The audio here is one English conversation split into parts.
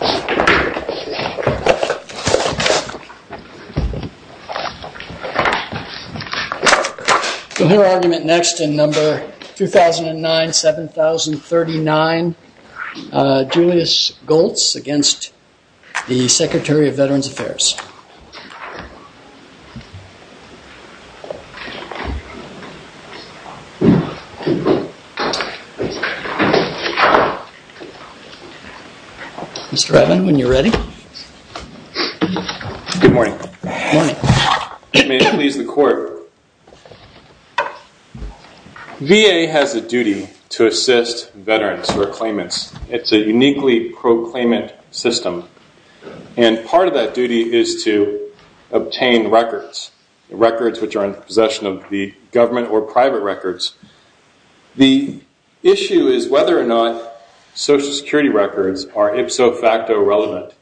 We'll hear argument next in number 2009-7039, Julius Goltz against the Secretary of Veterans Affairs. Mr. Ivan, when you're ready. Good morning. Good morning. May it please the court. VA has a duty to assist veterans for claimants. It's a uniquely pro-claimant system. And part of that duty is to obtain records. Records which are in possession of the government or private records. The issue is whether or not Social Security records are ipso facto relevant.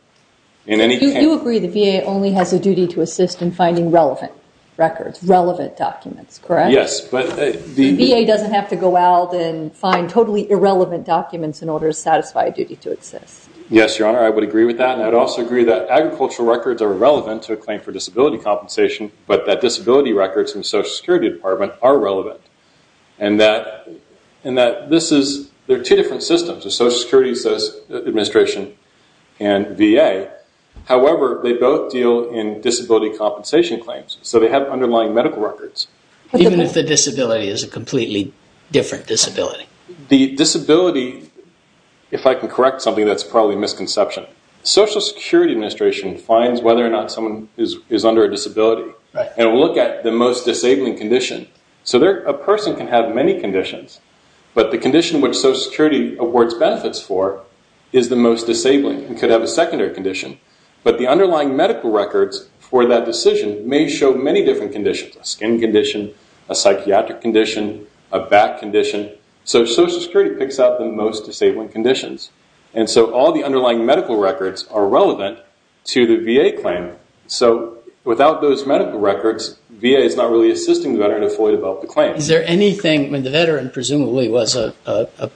You agree the VA only has a duty to assist in finding relevant records, relevant documents, correct? Yes. The VA doesn't have to go out and find totally irrelevant documents in order to satisfy a duty to assist. Yes, Your Honor. I would agree with that. And I would also agree that agricultural records are relevant to a claim for disability compensation, but that disability records in the Social Security Department are relevant. And that this is, there are two different systems, the Social Security Administration and VA. However, they both deal in disability compensation claims. So they have underlying medical records. Even if the disability is a completely different disability? The disability, if I can correct something, that's probably a misconception. Social Security Administration finds whether or not someone is under a disability. And it will look at the most disabling condition. So a person can have many conditions, but the condition which Social Security awards benefits for is the most disabling. It could have a secondary condition. But the underlying medical records for that decision may show many different conditions. A skin condition, a psychiatric condition, a back condition. So Social Security picks out the most disabling conditions. And so all the underlying medical records are relevant to the VA claim. So without those medical records, VA is not really assisting the veteran to fully develop the claim. Is there anything, when the veteran presumably was a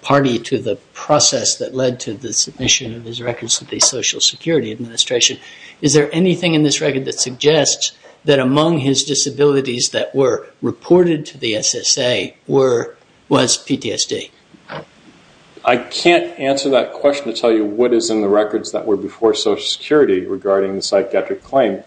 party to the process that led to the submission of his records to the Social Security Administration, is there anything in this record that suggests that among his disabilities that were reported to the SSA was PTSD? I can't answer that question to tell you what is in the records that were before Social Security regarding the psychiatric claim,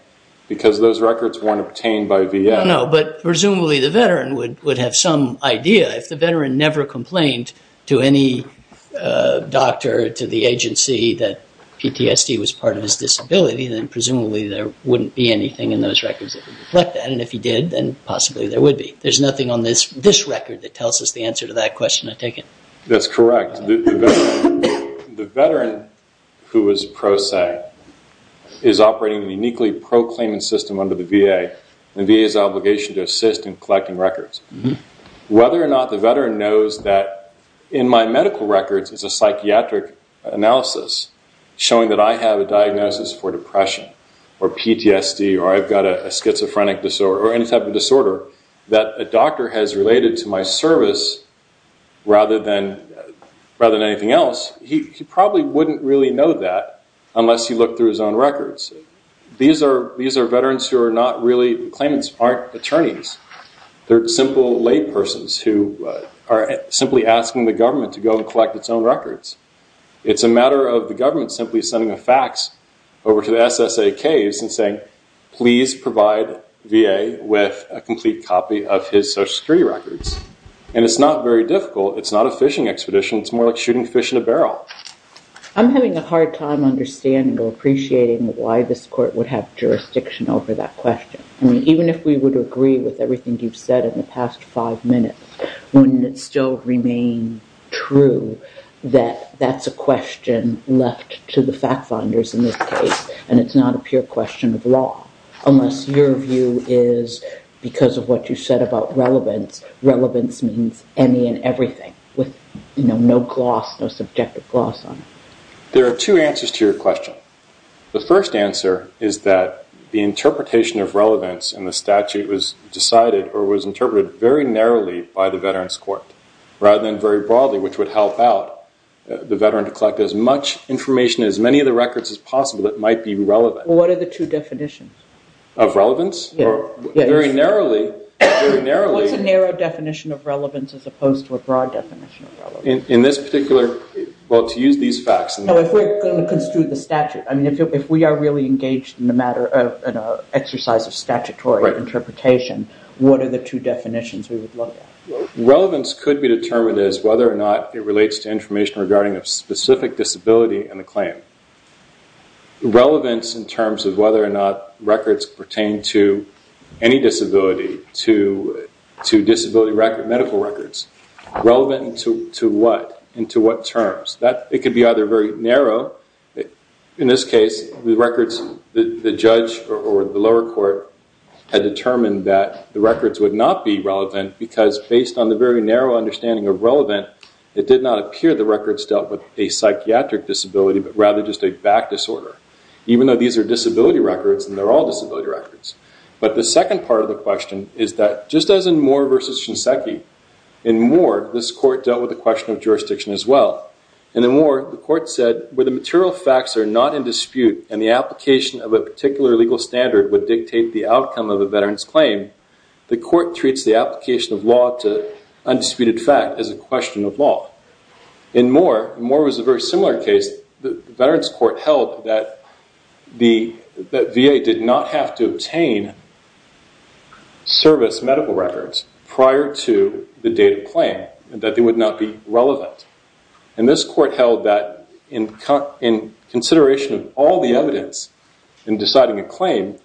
because those records weren't obtained by VA. No, but presumably the veteran would have some idea. If the veteran never complained to any doctor, to the agency, that PTSD was part of his disability, then presumably there wouldn't be anything in those records that would reflect that. And if he did, then possibly there would be. There's nothing on this record that tells us the answer to that question, I take it. That's correct. The veteran who was a pro se is operating uniquely pro-claimant system under the VA. And VA has an obligation to assist in collecting records. Whether or not the veteran knows that in my medical records it's a psychiatric analysis showing that I have a diagnosis for depression or PTSD or I've got a schizophrenic disorder or any type of disorder that a doctor has related to my service rather than anything else, he probably wouldn't really know that unless he looked through his own records. These are veterans who are not really claimants, aren't attorneys. They're simple laypersons who are simply asking the government to go and collect its own records. It's a matter of the government simply sending a fax over to the SSA case and saying, please provide VA with a complete copy of his Social Security records. And it's not very difficult. It's not a fishing expedition. It's more like shooting fish in a barrel. I'm having a hard time understanding or appreciating why this court would have jurisdiction over that question. Even if we would agree with everything you've said in the past five minutes, wouldn't it still remain true that that's a question left to the fact finders in this case and it's not a pure question of law? Unless your view is because of what you said about relevance, relevance means any and everything with no gloss, no subjective gloss on it. The first answer is that the interpretation of relevance in the statute was decided or was interpreted very narrowly by the Veterans Court rather than very broadly, which would help out the veteran to collect as much information, as many of the records as possible that might be relevant. What are the two definitions? Of relevance? Yes. Very narrowly. What's a narrow definition of relevance as opposed to a broad definition of relevance? In this particular, well, to use these facts. If we're going to construe the statute, if we are really engaged in an exercise of statutory interpretation, what are the two definitions we would look at? Relevance could be determined as whether or not it relates to information regarding a specific disability in the claim. Relevance in terms of whether or not records pertain to any disability, to disability medical records, relevant to what and to what terms? It could be either very narrow. In this case, the records, the judge or the lower court had determined that the records would not be relevant because based on the very narrow understanding of relevant, it did not appear the records dealt with a psychiatric disability but rather just a back disorder, even though these are disability records and they're all disability records. But the second part of the question is that just as in Moore v. Shinseki, in Moore, this court dealt with the question of jurisdiction as well. In the Moore, the court said where the material facts are not in dispute and the application of a particular legal standard would dictate the outcome of a veteran's claim, the court treats the application of law to undisputed fact as a question of law. In Moore, Moore was a very similar case. In this case, the veterans court held that the VA did not have to obtain service medical records prior to the date of claim, that they would not be relevant. And this court held that in consideration of all the evidence in deciding a claim,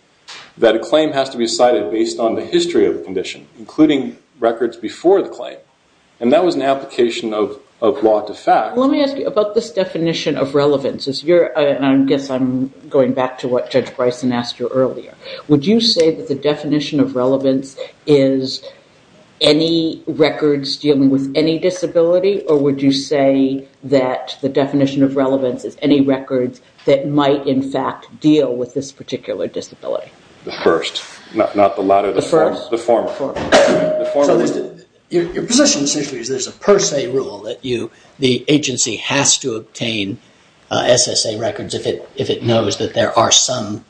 that a claim has to be decided based on the history of the condition, including records before the claim. And that was an application of law to fact. Let me ask you about this definition of relevance. I guess I'm going back to what Judge Bryson asked you earlier. Would you say that the definition of relevance is any records dealing with any disability or would you say that the definition of relevance is any records that might in fact deal with this particular disability? The first, not the latter, the former. Your position essentially is there's a per se rule that the agency has to obtain SSA records if it knows that there are some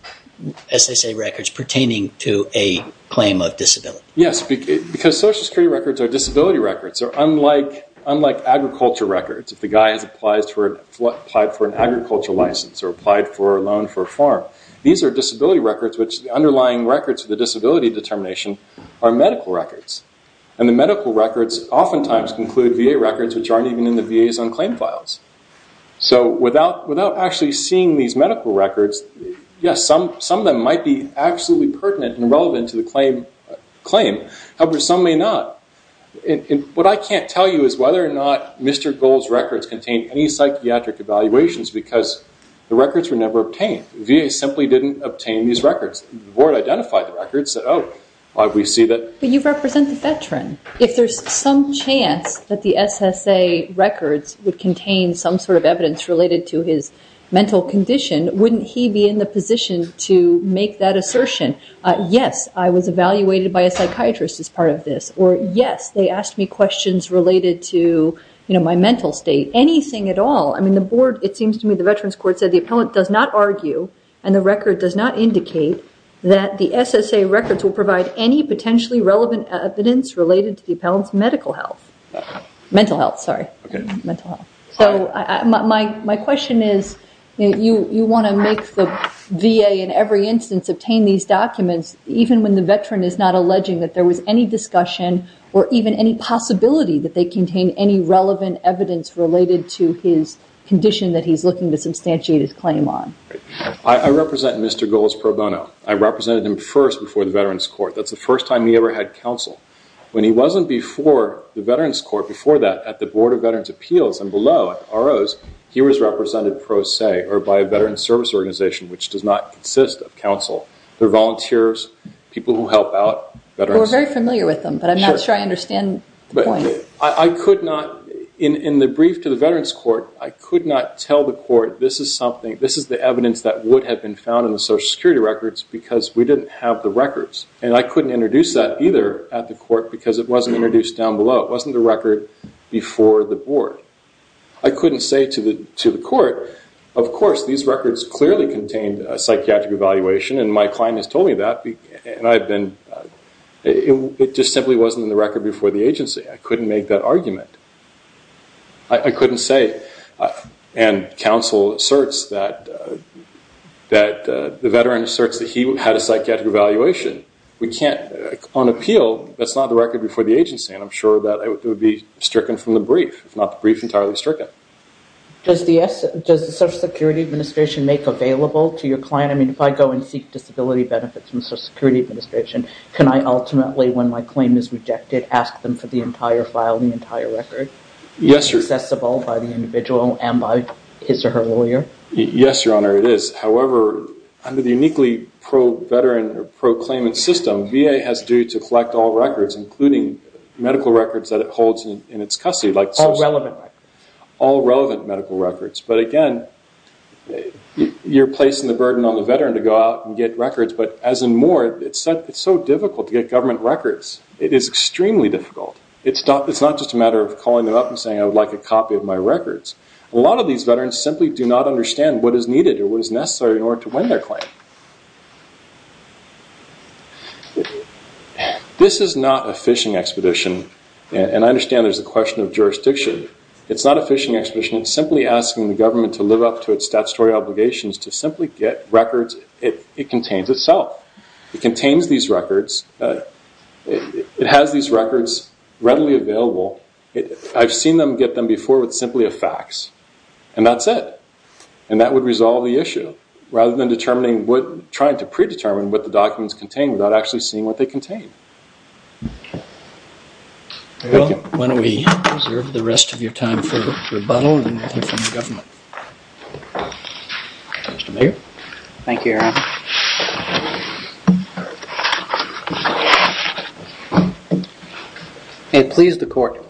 SSA records pertaining to a claim of disability. Yes, because Social Security records are disability records. They're unlike agriculture records. If the guy has applied for an agriculture license or applied for a loan for a farm, these are disability records which the underlying records of the disability determination are medical records. And the medical records oftentimes include VA records which aren't even in the VA's own claim files. So without actually seeing these medical records, yes, some of them might be absolutely pertinent and relevant to the claim. However, some may not. What I can't tell you is whether or not Mr. Gold's records contain any psychiatric evaluations because the records were never obtained. VA simply didn't obtain these records. The board identified the records and said, oh, we see that. But you represent the veteran. If there's some chance that the SSA records would contain some sort of evidence related to his mental condition, wouldn't he be in the position to make that assertion? Yes, I was evaluated by a psychiatrist as part of this. Or yes, they asked me questions related to my mental state. Anything at all. I mean, the board, it seems to me, the Veterans Court said the appellant does not argue and the record does not indicate that the SSA records will provide any potentially relevant evidence related to the appellant's medical health. Mental health, sorry. Okay. Mental health. So my question is you want to make the VA in every instance obtain these documents, even when the veteran is not alleging that there was any discussion or even any possibility that they contain any relevant evidence related to his condition that he's looking to substantiate his claim on. I represent Mr. Goulds pro bono. I represented him first before the Veterans Court. That's the first time he ever had counsel. When he wasn't before the Veterans Court, before that, at the Board of Veterans Appeals and below at ROs, he was represented pro se or by a veterans service organization, which does not consist of counsel. They're volunteers, people who help out veterans. So we're very familiar with them, but I'm not sure I understand the point. I could not, in the brief to the Veterans Court, I could not tell the court this is something, this is the evidence that would have been found in the Social Security records because we didn't have the records, and I couldn't introduce that either at the court because it wasn't introduced down below. It wasn't the record before the board. I couldn't say to the court, of course, these records clearly contained a psychiatric evaluation, and my client has told me that, and I've been, it just simply wasn't in the record before the agency. I couldn't make that argument. I couldn't say, and counsel asserts that the veteran asserts that he had a psychiatric evaluation. We can't, on appeal, that's not the record before the agency, and I'm sure that it would be stricken from the brief, if not the brief entirely stricken. Does the Social Security Administration make available to your client? I mean, if I go and seek disability benefits from the Social Security Administration, can I ultimately, when my claim is rejected, ask them for the entire file, the entire record? Yes, Your Honor. Accessible by the individual and by his or her lawyer? Yes, Your Honor, it is. However, under the uniquely pro-veteran or pro-claimant system, VA has to collect all records, including medical records that it holds in its custody. All relevant records. All relevant medical records. But again, you're placing the burden on the veteran to go out and get records, but as and more, it's so difficult to get government records. It is extremely difficult. It's not just a matter of calling them up and saying, I would like a copy of my records. A lot of these veterans simply do not understand what is needed or what is necessary in order to win their claim. This is not a phishing expedition, and I understand there's a question of jurisdiction. It's not a phishing expedition. It's simply asking the government to live up to its statutory obligations to simply get records it contains itself. It contains these records. It has these records readily available. I've seen them get them before with simply a fax, and that's it. And that would resolve the issue. Rather than trying to predetermine what the documents contain without actually seeing what they contain. Why don't we reserve the rest of your time for rebuttal and then we'll hear from the government. Mr. Mayor? Thank you, Aaron. May it please the Court.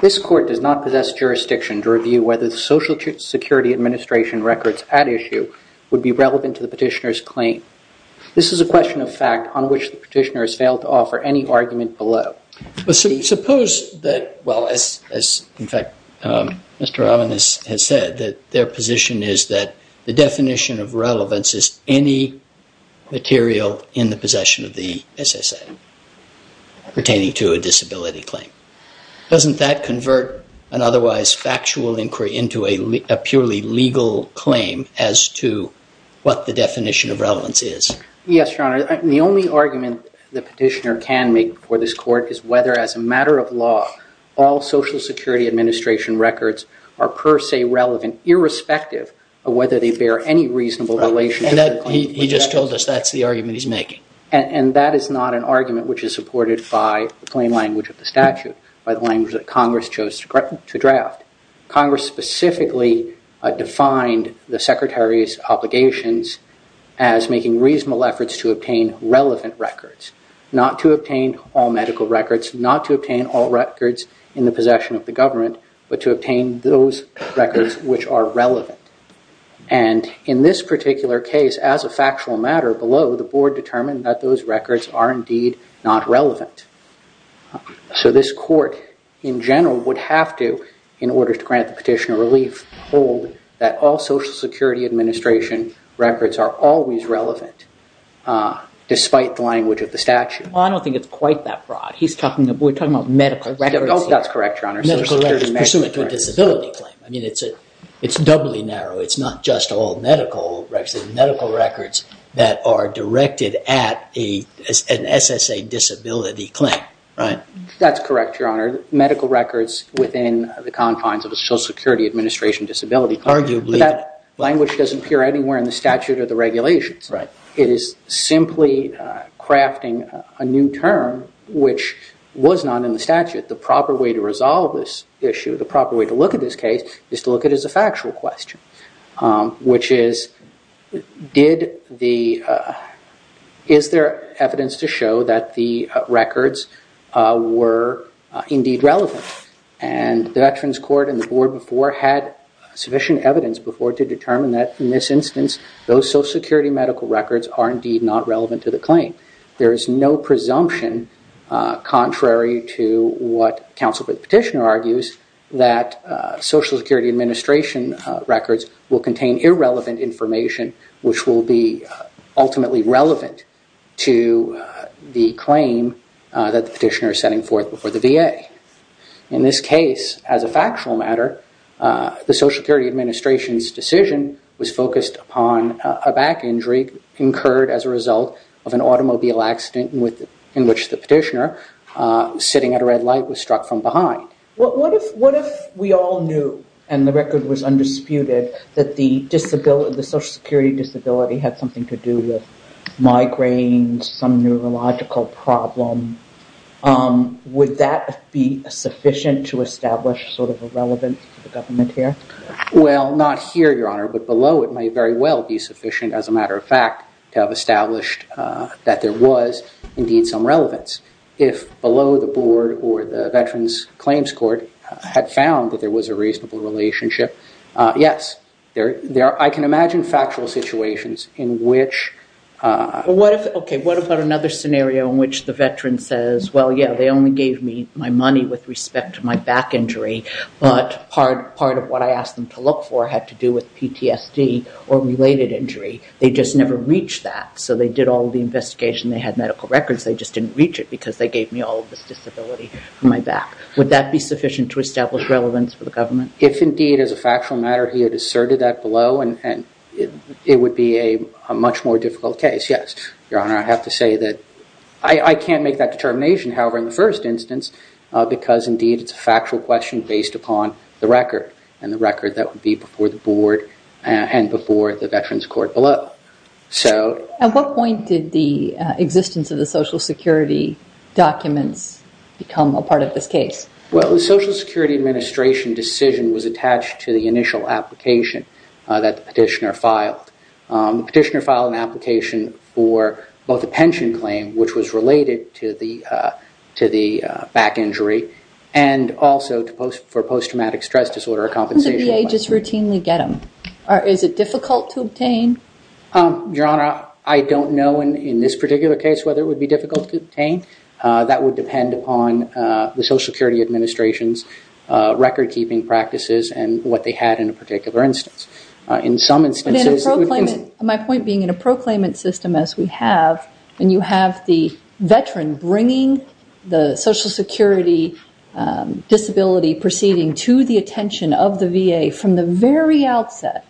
This Court does not possess jurisdiction to review whether the Social Security Administration records at issue would be relevant to the petitioner's claim. This is a question of fact on which the petitioner has failed to offer any argument below. Suppose that, well, as in fact Mr. Robbins has said, that their position is that the definition of relevance is any material in the possession of the SSA pertaining to a disability claim. Doesn't that convert an otherwise factual inquiry into a purely legal claim as to what the definition of relevance is? Yes, Your Honor. The only argument the petitioner can make before this Court is whether, as a matter of law, all Social Security Administration records are per se relevant, irrespective of whether they bear any reasonable relationship. He just told us that's the argument he's making. And that is not an argument which is supported by the plain language of the statute, by the language that Congress chose to draft. Congress specifically defined the Secretary's obligations as making reasonable efforts to obtain relevant records, not to obtain all medical records, not to obtain all records in the possession of the government, but to obtain those records which are relevant. And in this particular case, as a factual matter below, the Board determined that those records are indeed not relevant. So this Court, in general, would have to, in order to grant the petitioner relief, hold that all Social Security Administration records are always relevant, despite the language of the statute. Well, I don't think it's quite that broad. We're talking about medical records. That's correct, Your Honor. Medical records pursuant to a disability claim. I mean, it's doubly narrow. It's not just all medical records. It's medical records that are directed at an SSA disability claim, right? That's correct, Your Honor. Medical records within the confines of a Social Security Administration disability claim. Arguably. But that language doesn't appear anywhere in the statute or the regulations. Right. It is simply crafting a new term which was not in the statute. The proper way to resolve this issue, the proper way to look at this case, is to look at it as a factual question. Which is, is there evidence to show that the records were indeed relevant? And the Veterans Court and the Board before had sufficient evidence before to determine that, in this instance, those Social Security medical records are indeed not relevant to the claim. There is no presumption, contrary to what counsel for the petitioner argues, that Social Security Administration records will contain irrelevant information, which will be ultimately relevant to the claim that the petitioner is setting forth before the VA. In this case, as a factual matter, the Social Security Administration's decision was focused upon a back injury incurred as a result of an automobile accident in which the petitioner, sitting at a red light, was struck from behind. What if we all knew, and the record was undisputed, that the Social Security disability had something to do with migraines, some neurological problem? Would that be sufficient to establish sort of a relevance to the government here? Well, not here, Your Honor, but below it may very well be sufficient, as a matter of fact, to have established that there was indeed some relevance. If below the Board or the Veterans Claims Court had found that there was a reasonable relationship, yes. I can imagine factual situations in which... Okay, what about another scenario in which the veteran says, well, yeah, they only gave me my money with respect to my back injury, but part of what I asked them to look for had to do with PTSD or related injury. They just never reached that, so they did all the investigation. They had medical records. They just didn't reach it because they gave me all of this disability on my back. Would that be sufficient to establish relevance for the government? If indeed, as a factual matter, he had asserted that below, it would be a much more difficult case, yes. Your Honor, I have to say that I can't make that determination, however, in the first instance because indeed it's a factual question based upon the record and the record that would be before the Board and before the Veterans Court below. At what point did the existence of the Social Security documents become a part of this case? Well, the Social Security Administration decision was attached to the initial application that the petitioner filed. The petitioner filed an application for both a pension claim, which was related to the back injury, and also for post-traumatic stress disorder compensation. How can the VA just routinely get them? Is it difficult to obtain? Your Honor, I don't know in this particular case whether it would be difficult to obtain. That would depend upon the Social Security Administration's record-keeping practices and what they had in a particular instance. My point being, in a proclaimant system as we have, when you have the veteran bringing the Social Security disability proceeding to the attention of the VA from the very outset,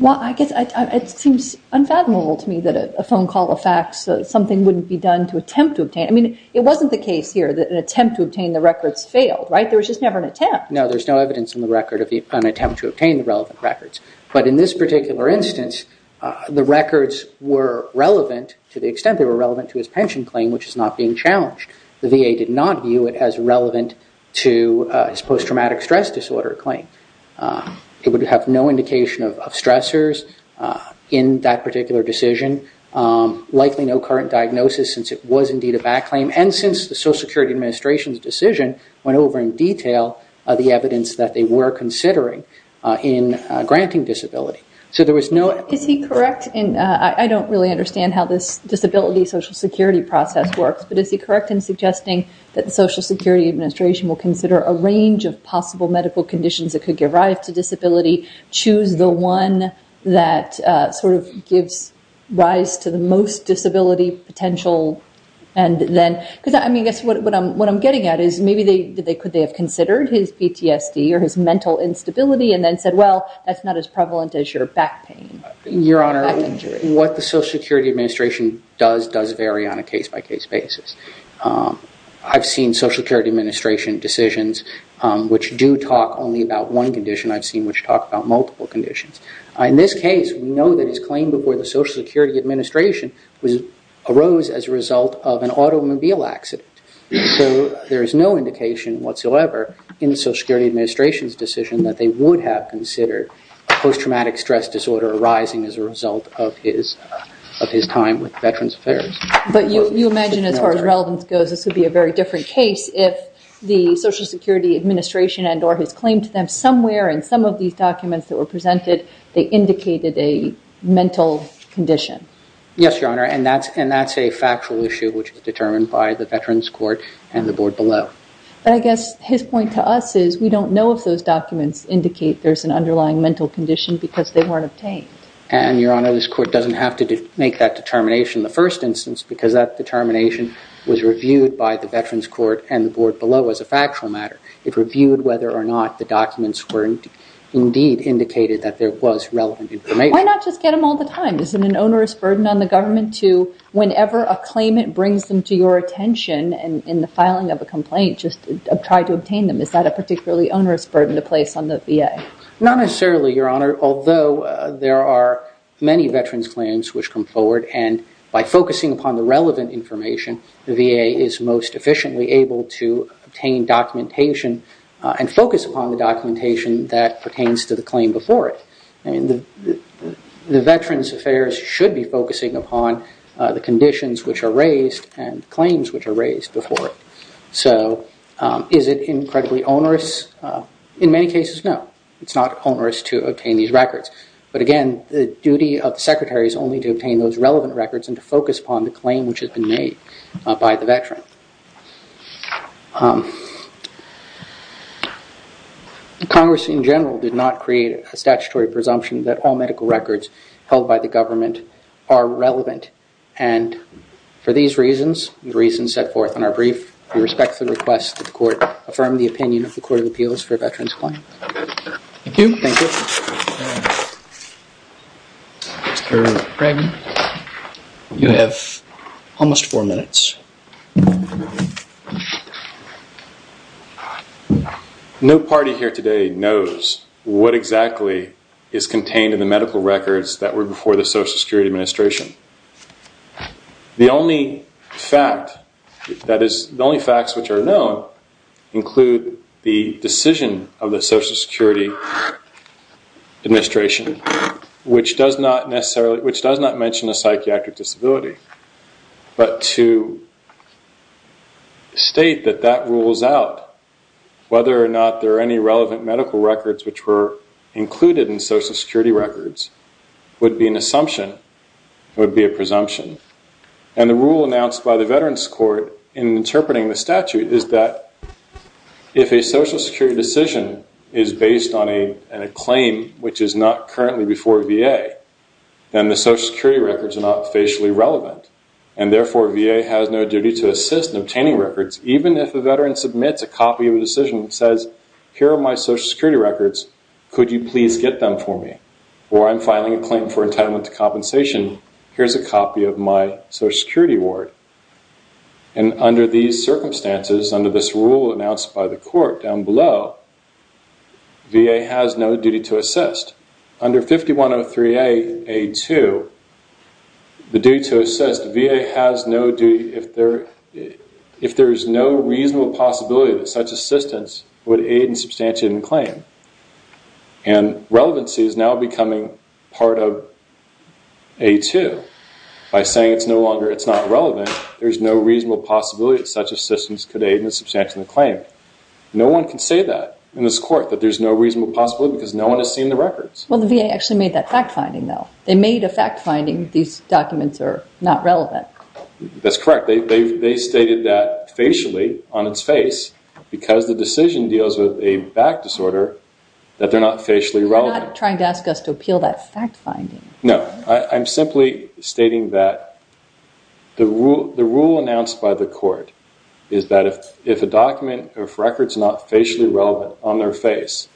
it seems unfathomable to me that a phone call, a fax, something wouldn't be done to attempt to obtain. I mean, it wasn't the case here that an attempt to obtain the records failed, right? There was just never an attempt. No, there's no evidence in the record of an attempt to obtain the relevant records. But in this particular instance, the records were relevant to the extent they were relevant to his pension claim, which is not being challenged. The VA did not view it as relevant to his post-traumatic stress disorder claim. It would have no indication of stressors in that particular decision, likely no current diagnosis since it was indeed a back claim, and since the Social Security Administration's decision went over in detail the evidence that they were considering in granting disability. So there was no... Is he correct in, I don't really understand how this disability Social Security process works, but is he correct in suggesting that the Social Security Administration will consider a range of possible medical conditions that could give rise to disability, choose the one that sort of gives rise to the most disability potential, because I guess what I'm getting at is maybe could they have considered his PTSD or his mental instability and then said, well, that's not as prevalent as your back pain, back injury. Your Honor, what the Social Security Administration does does vary on a case-by-case basis. I've seen Social Security Administration decisions which do talk only about one condition. I've seen which talk about multiple conditions. In this case, we know that his claim before the Social Security Administration arose as a result of an automobile accident. So there is no indication whatsoever in the Social Security Administration's decision that they would have considered post-traumatic stress disorder arising as a result of his time with Veterans Affairs. But you imagine as far as relevance goes, this would be a very different case if the Social Security Administration and or his claim to them somewhere in some of these documents that were presented, they indicated a mental condition. Yes, Your Honor, and that's a factual issue which is determined by the Veterans Court and the board below. But I guess his point to us is we don't know if those documents indicate there's an underlying mental condition because they weren't obtained. And, Your Honor, this court doesn't have to make that determination in the first instance because that determination was reviewed by the Veterans Court and the board below as a factual matter. It reviewed whether or not the documents were indeed indicated that there was relevant information. Why not just get them all the time? Is it an onerous burden on the government to whenever a claimant brings them to your attention and in the filing of a complaint just try to obtain them? Is that a particularly onerous burden to place on the VA? Not necessarily, Your Honor, although there are many veterans' claims which come forward and by focusing upon the relevant information, the VA is most efficiently able to obtain documentation and focus upon the documentation that pertains to the claim before it. The Veterans Affairs should be focusing upon the conditions which are raised and claims which are raised before it. So is it incredibly onerous? In many cases, no. It's not onerous to obtain these records. But again, the duty of the Secretary is only to obtain those relevant records and to focus upon the claim which has been made by the veteran. Congress in general did not create a statutory presumption that all medical records held by the government are relevant. And for these reasons, the reasons set forth in our brief, we respectfully request that the court affirm the opinion of the Court of Appeals for veterans' claims. Thank you. Mr. Craig, you have almost four minutes. No party here today knows what exactly is contained in the medical records that were before the Social Security Administration. The only facts which are known include the decision of the Social Security Administration, which does not mention a psychiatric disability. But to state that that rules out whether or not there are any relevant medical records which were included in Social Security records would be an assumption. It would be a presumption. And the rule announced by the Veterans Court in interpreting the statute is that if a Social Security decision is based on a claim which is not currently before VA, then the Social Security records are not facially relevant. And therefore, VA has no duty to assist in obtaining records, even if a veteran submits a copy of a decision that says, here are my Social Security records, could you please get them for me? Or I'm filing a claim for entitlement to compensation. Here's a copy of my Social Security award. And under these circumstances, under this rule announced by the court down below, VA has no duty to assist. Under 5103A.A.2, the duty to assist, VA has no duty, if there is no reasonable possibility that such assistance would aid in substantiating a claim. And relevancy is now becoming part of A.A.2. By saying it's no longer, it's not relevant, there's no reasonable possibility that such assistance could aid in substantiating a claim. No one can say that in this court, that there's no reasonable possibility because no one has seen the records. Well, the VA actually made that fact-finding though. They made a fact-finding these documents are not relevant. That's correct. They stated that facially, on its face, because the decision deals with a back disorder, that they're not facially relevant. They're not trying to ask us to appeal that fact-finding. No. I'm simply stating that the rule announced by the court is that if a document, if a record's not facially relevant on their face,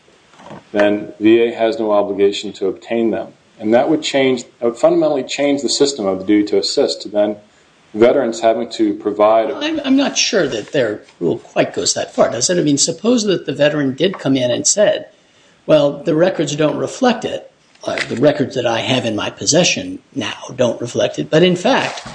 then VA has no obligation to obtain them. And that would fundamentally change the system of the duty to assist. Veterans having to provide a- I'm not sure that their rule quite goes that far. Does it? I mean, suppose that the veteran did come in and said, well, the records don't reflect it. The records that I have in my possession now don't reflect it. But in fact,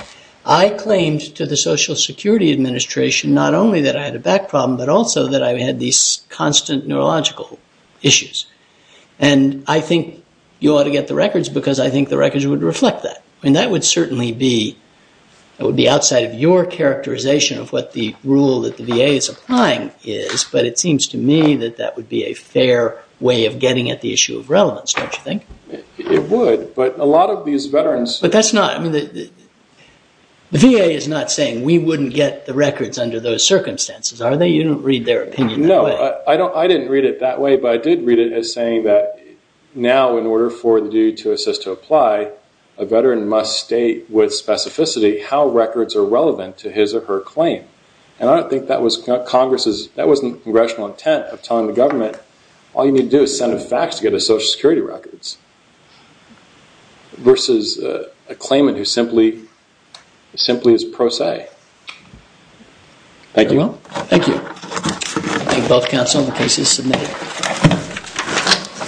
I claimed to the Social Security Administration not only that I had a back problem, but also that I had these constant neurological issues. And I think you ought to get the records because I think the records would reflect that. I mean, that would certainly be outside of your characterization of what the rule that the VA is applying is, but it seems to me that that would be a fair way of getting at the issue of relevance, don't you think? It would, but a lot of these veterans- But that's not- The VA is not saying we wouldn't get the records under those circumstances, are they? You don't read their opinion that way. No. I didn't read it that way, but I did read it as saying that now in order for the duty to assist to apply, a veteran must state with specificity how records are relevant to his or her claim. And I don't think that was Congress's- that wasn't the Congressional intent of telling the government, all you need to do is send a fax to get the Social Security records, versus a claimant who simply is pro se. Thank you. Thank you. Thank you both, counsel. The case is submitted.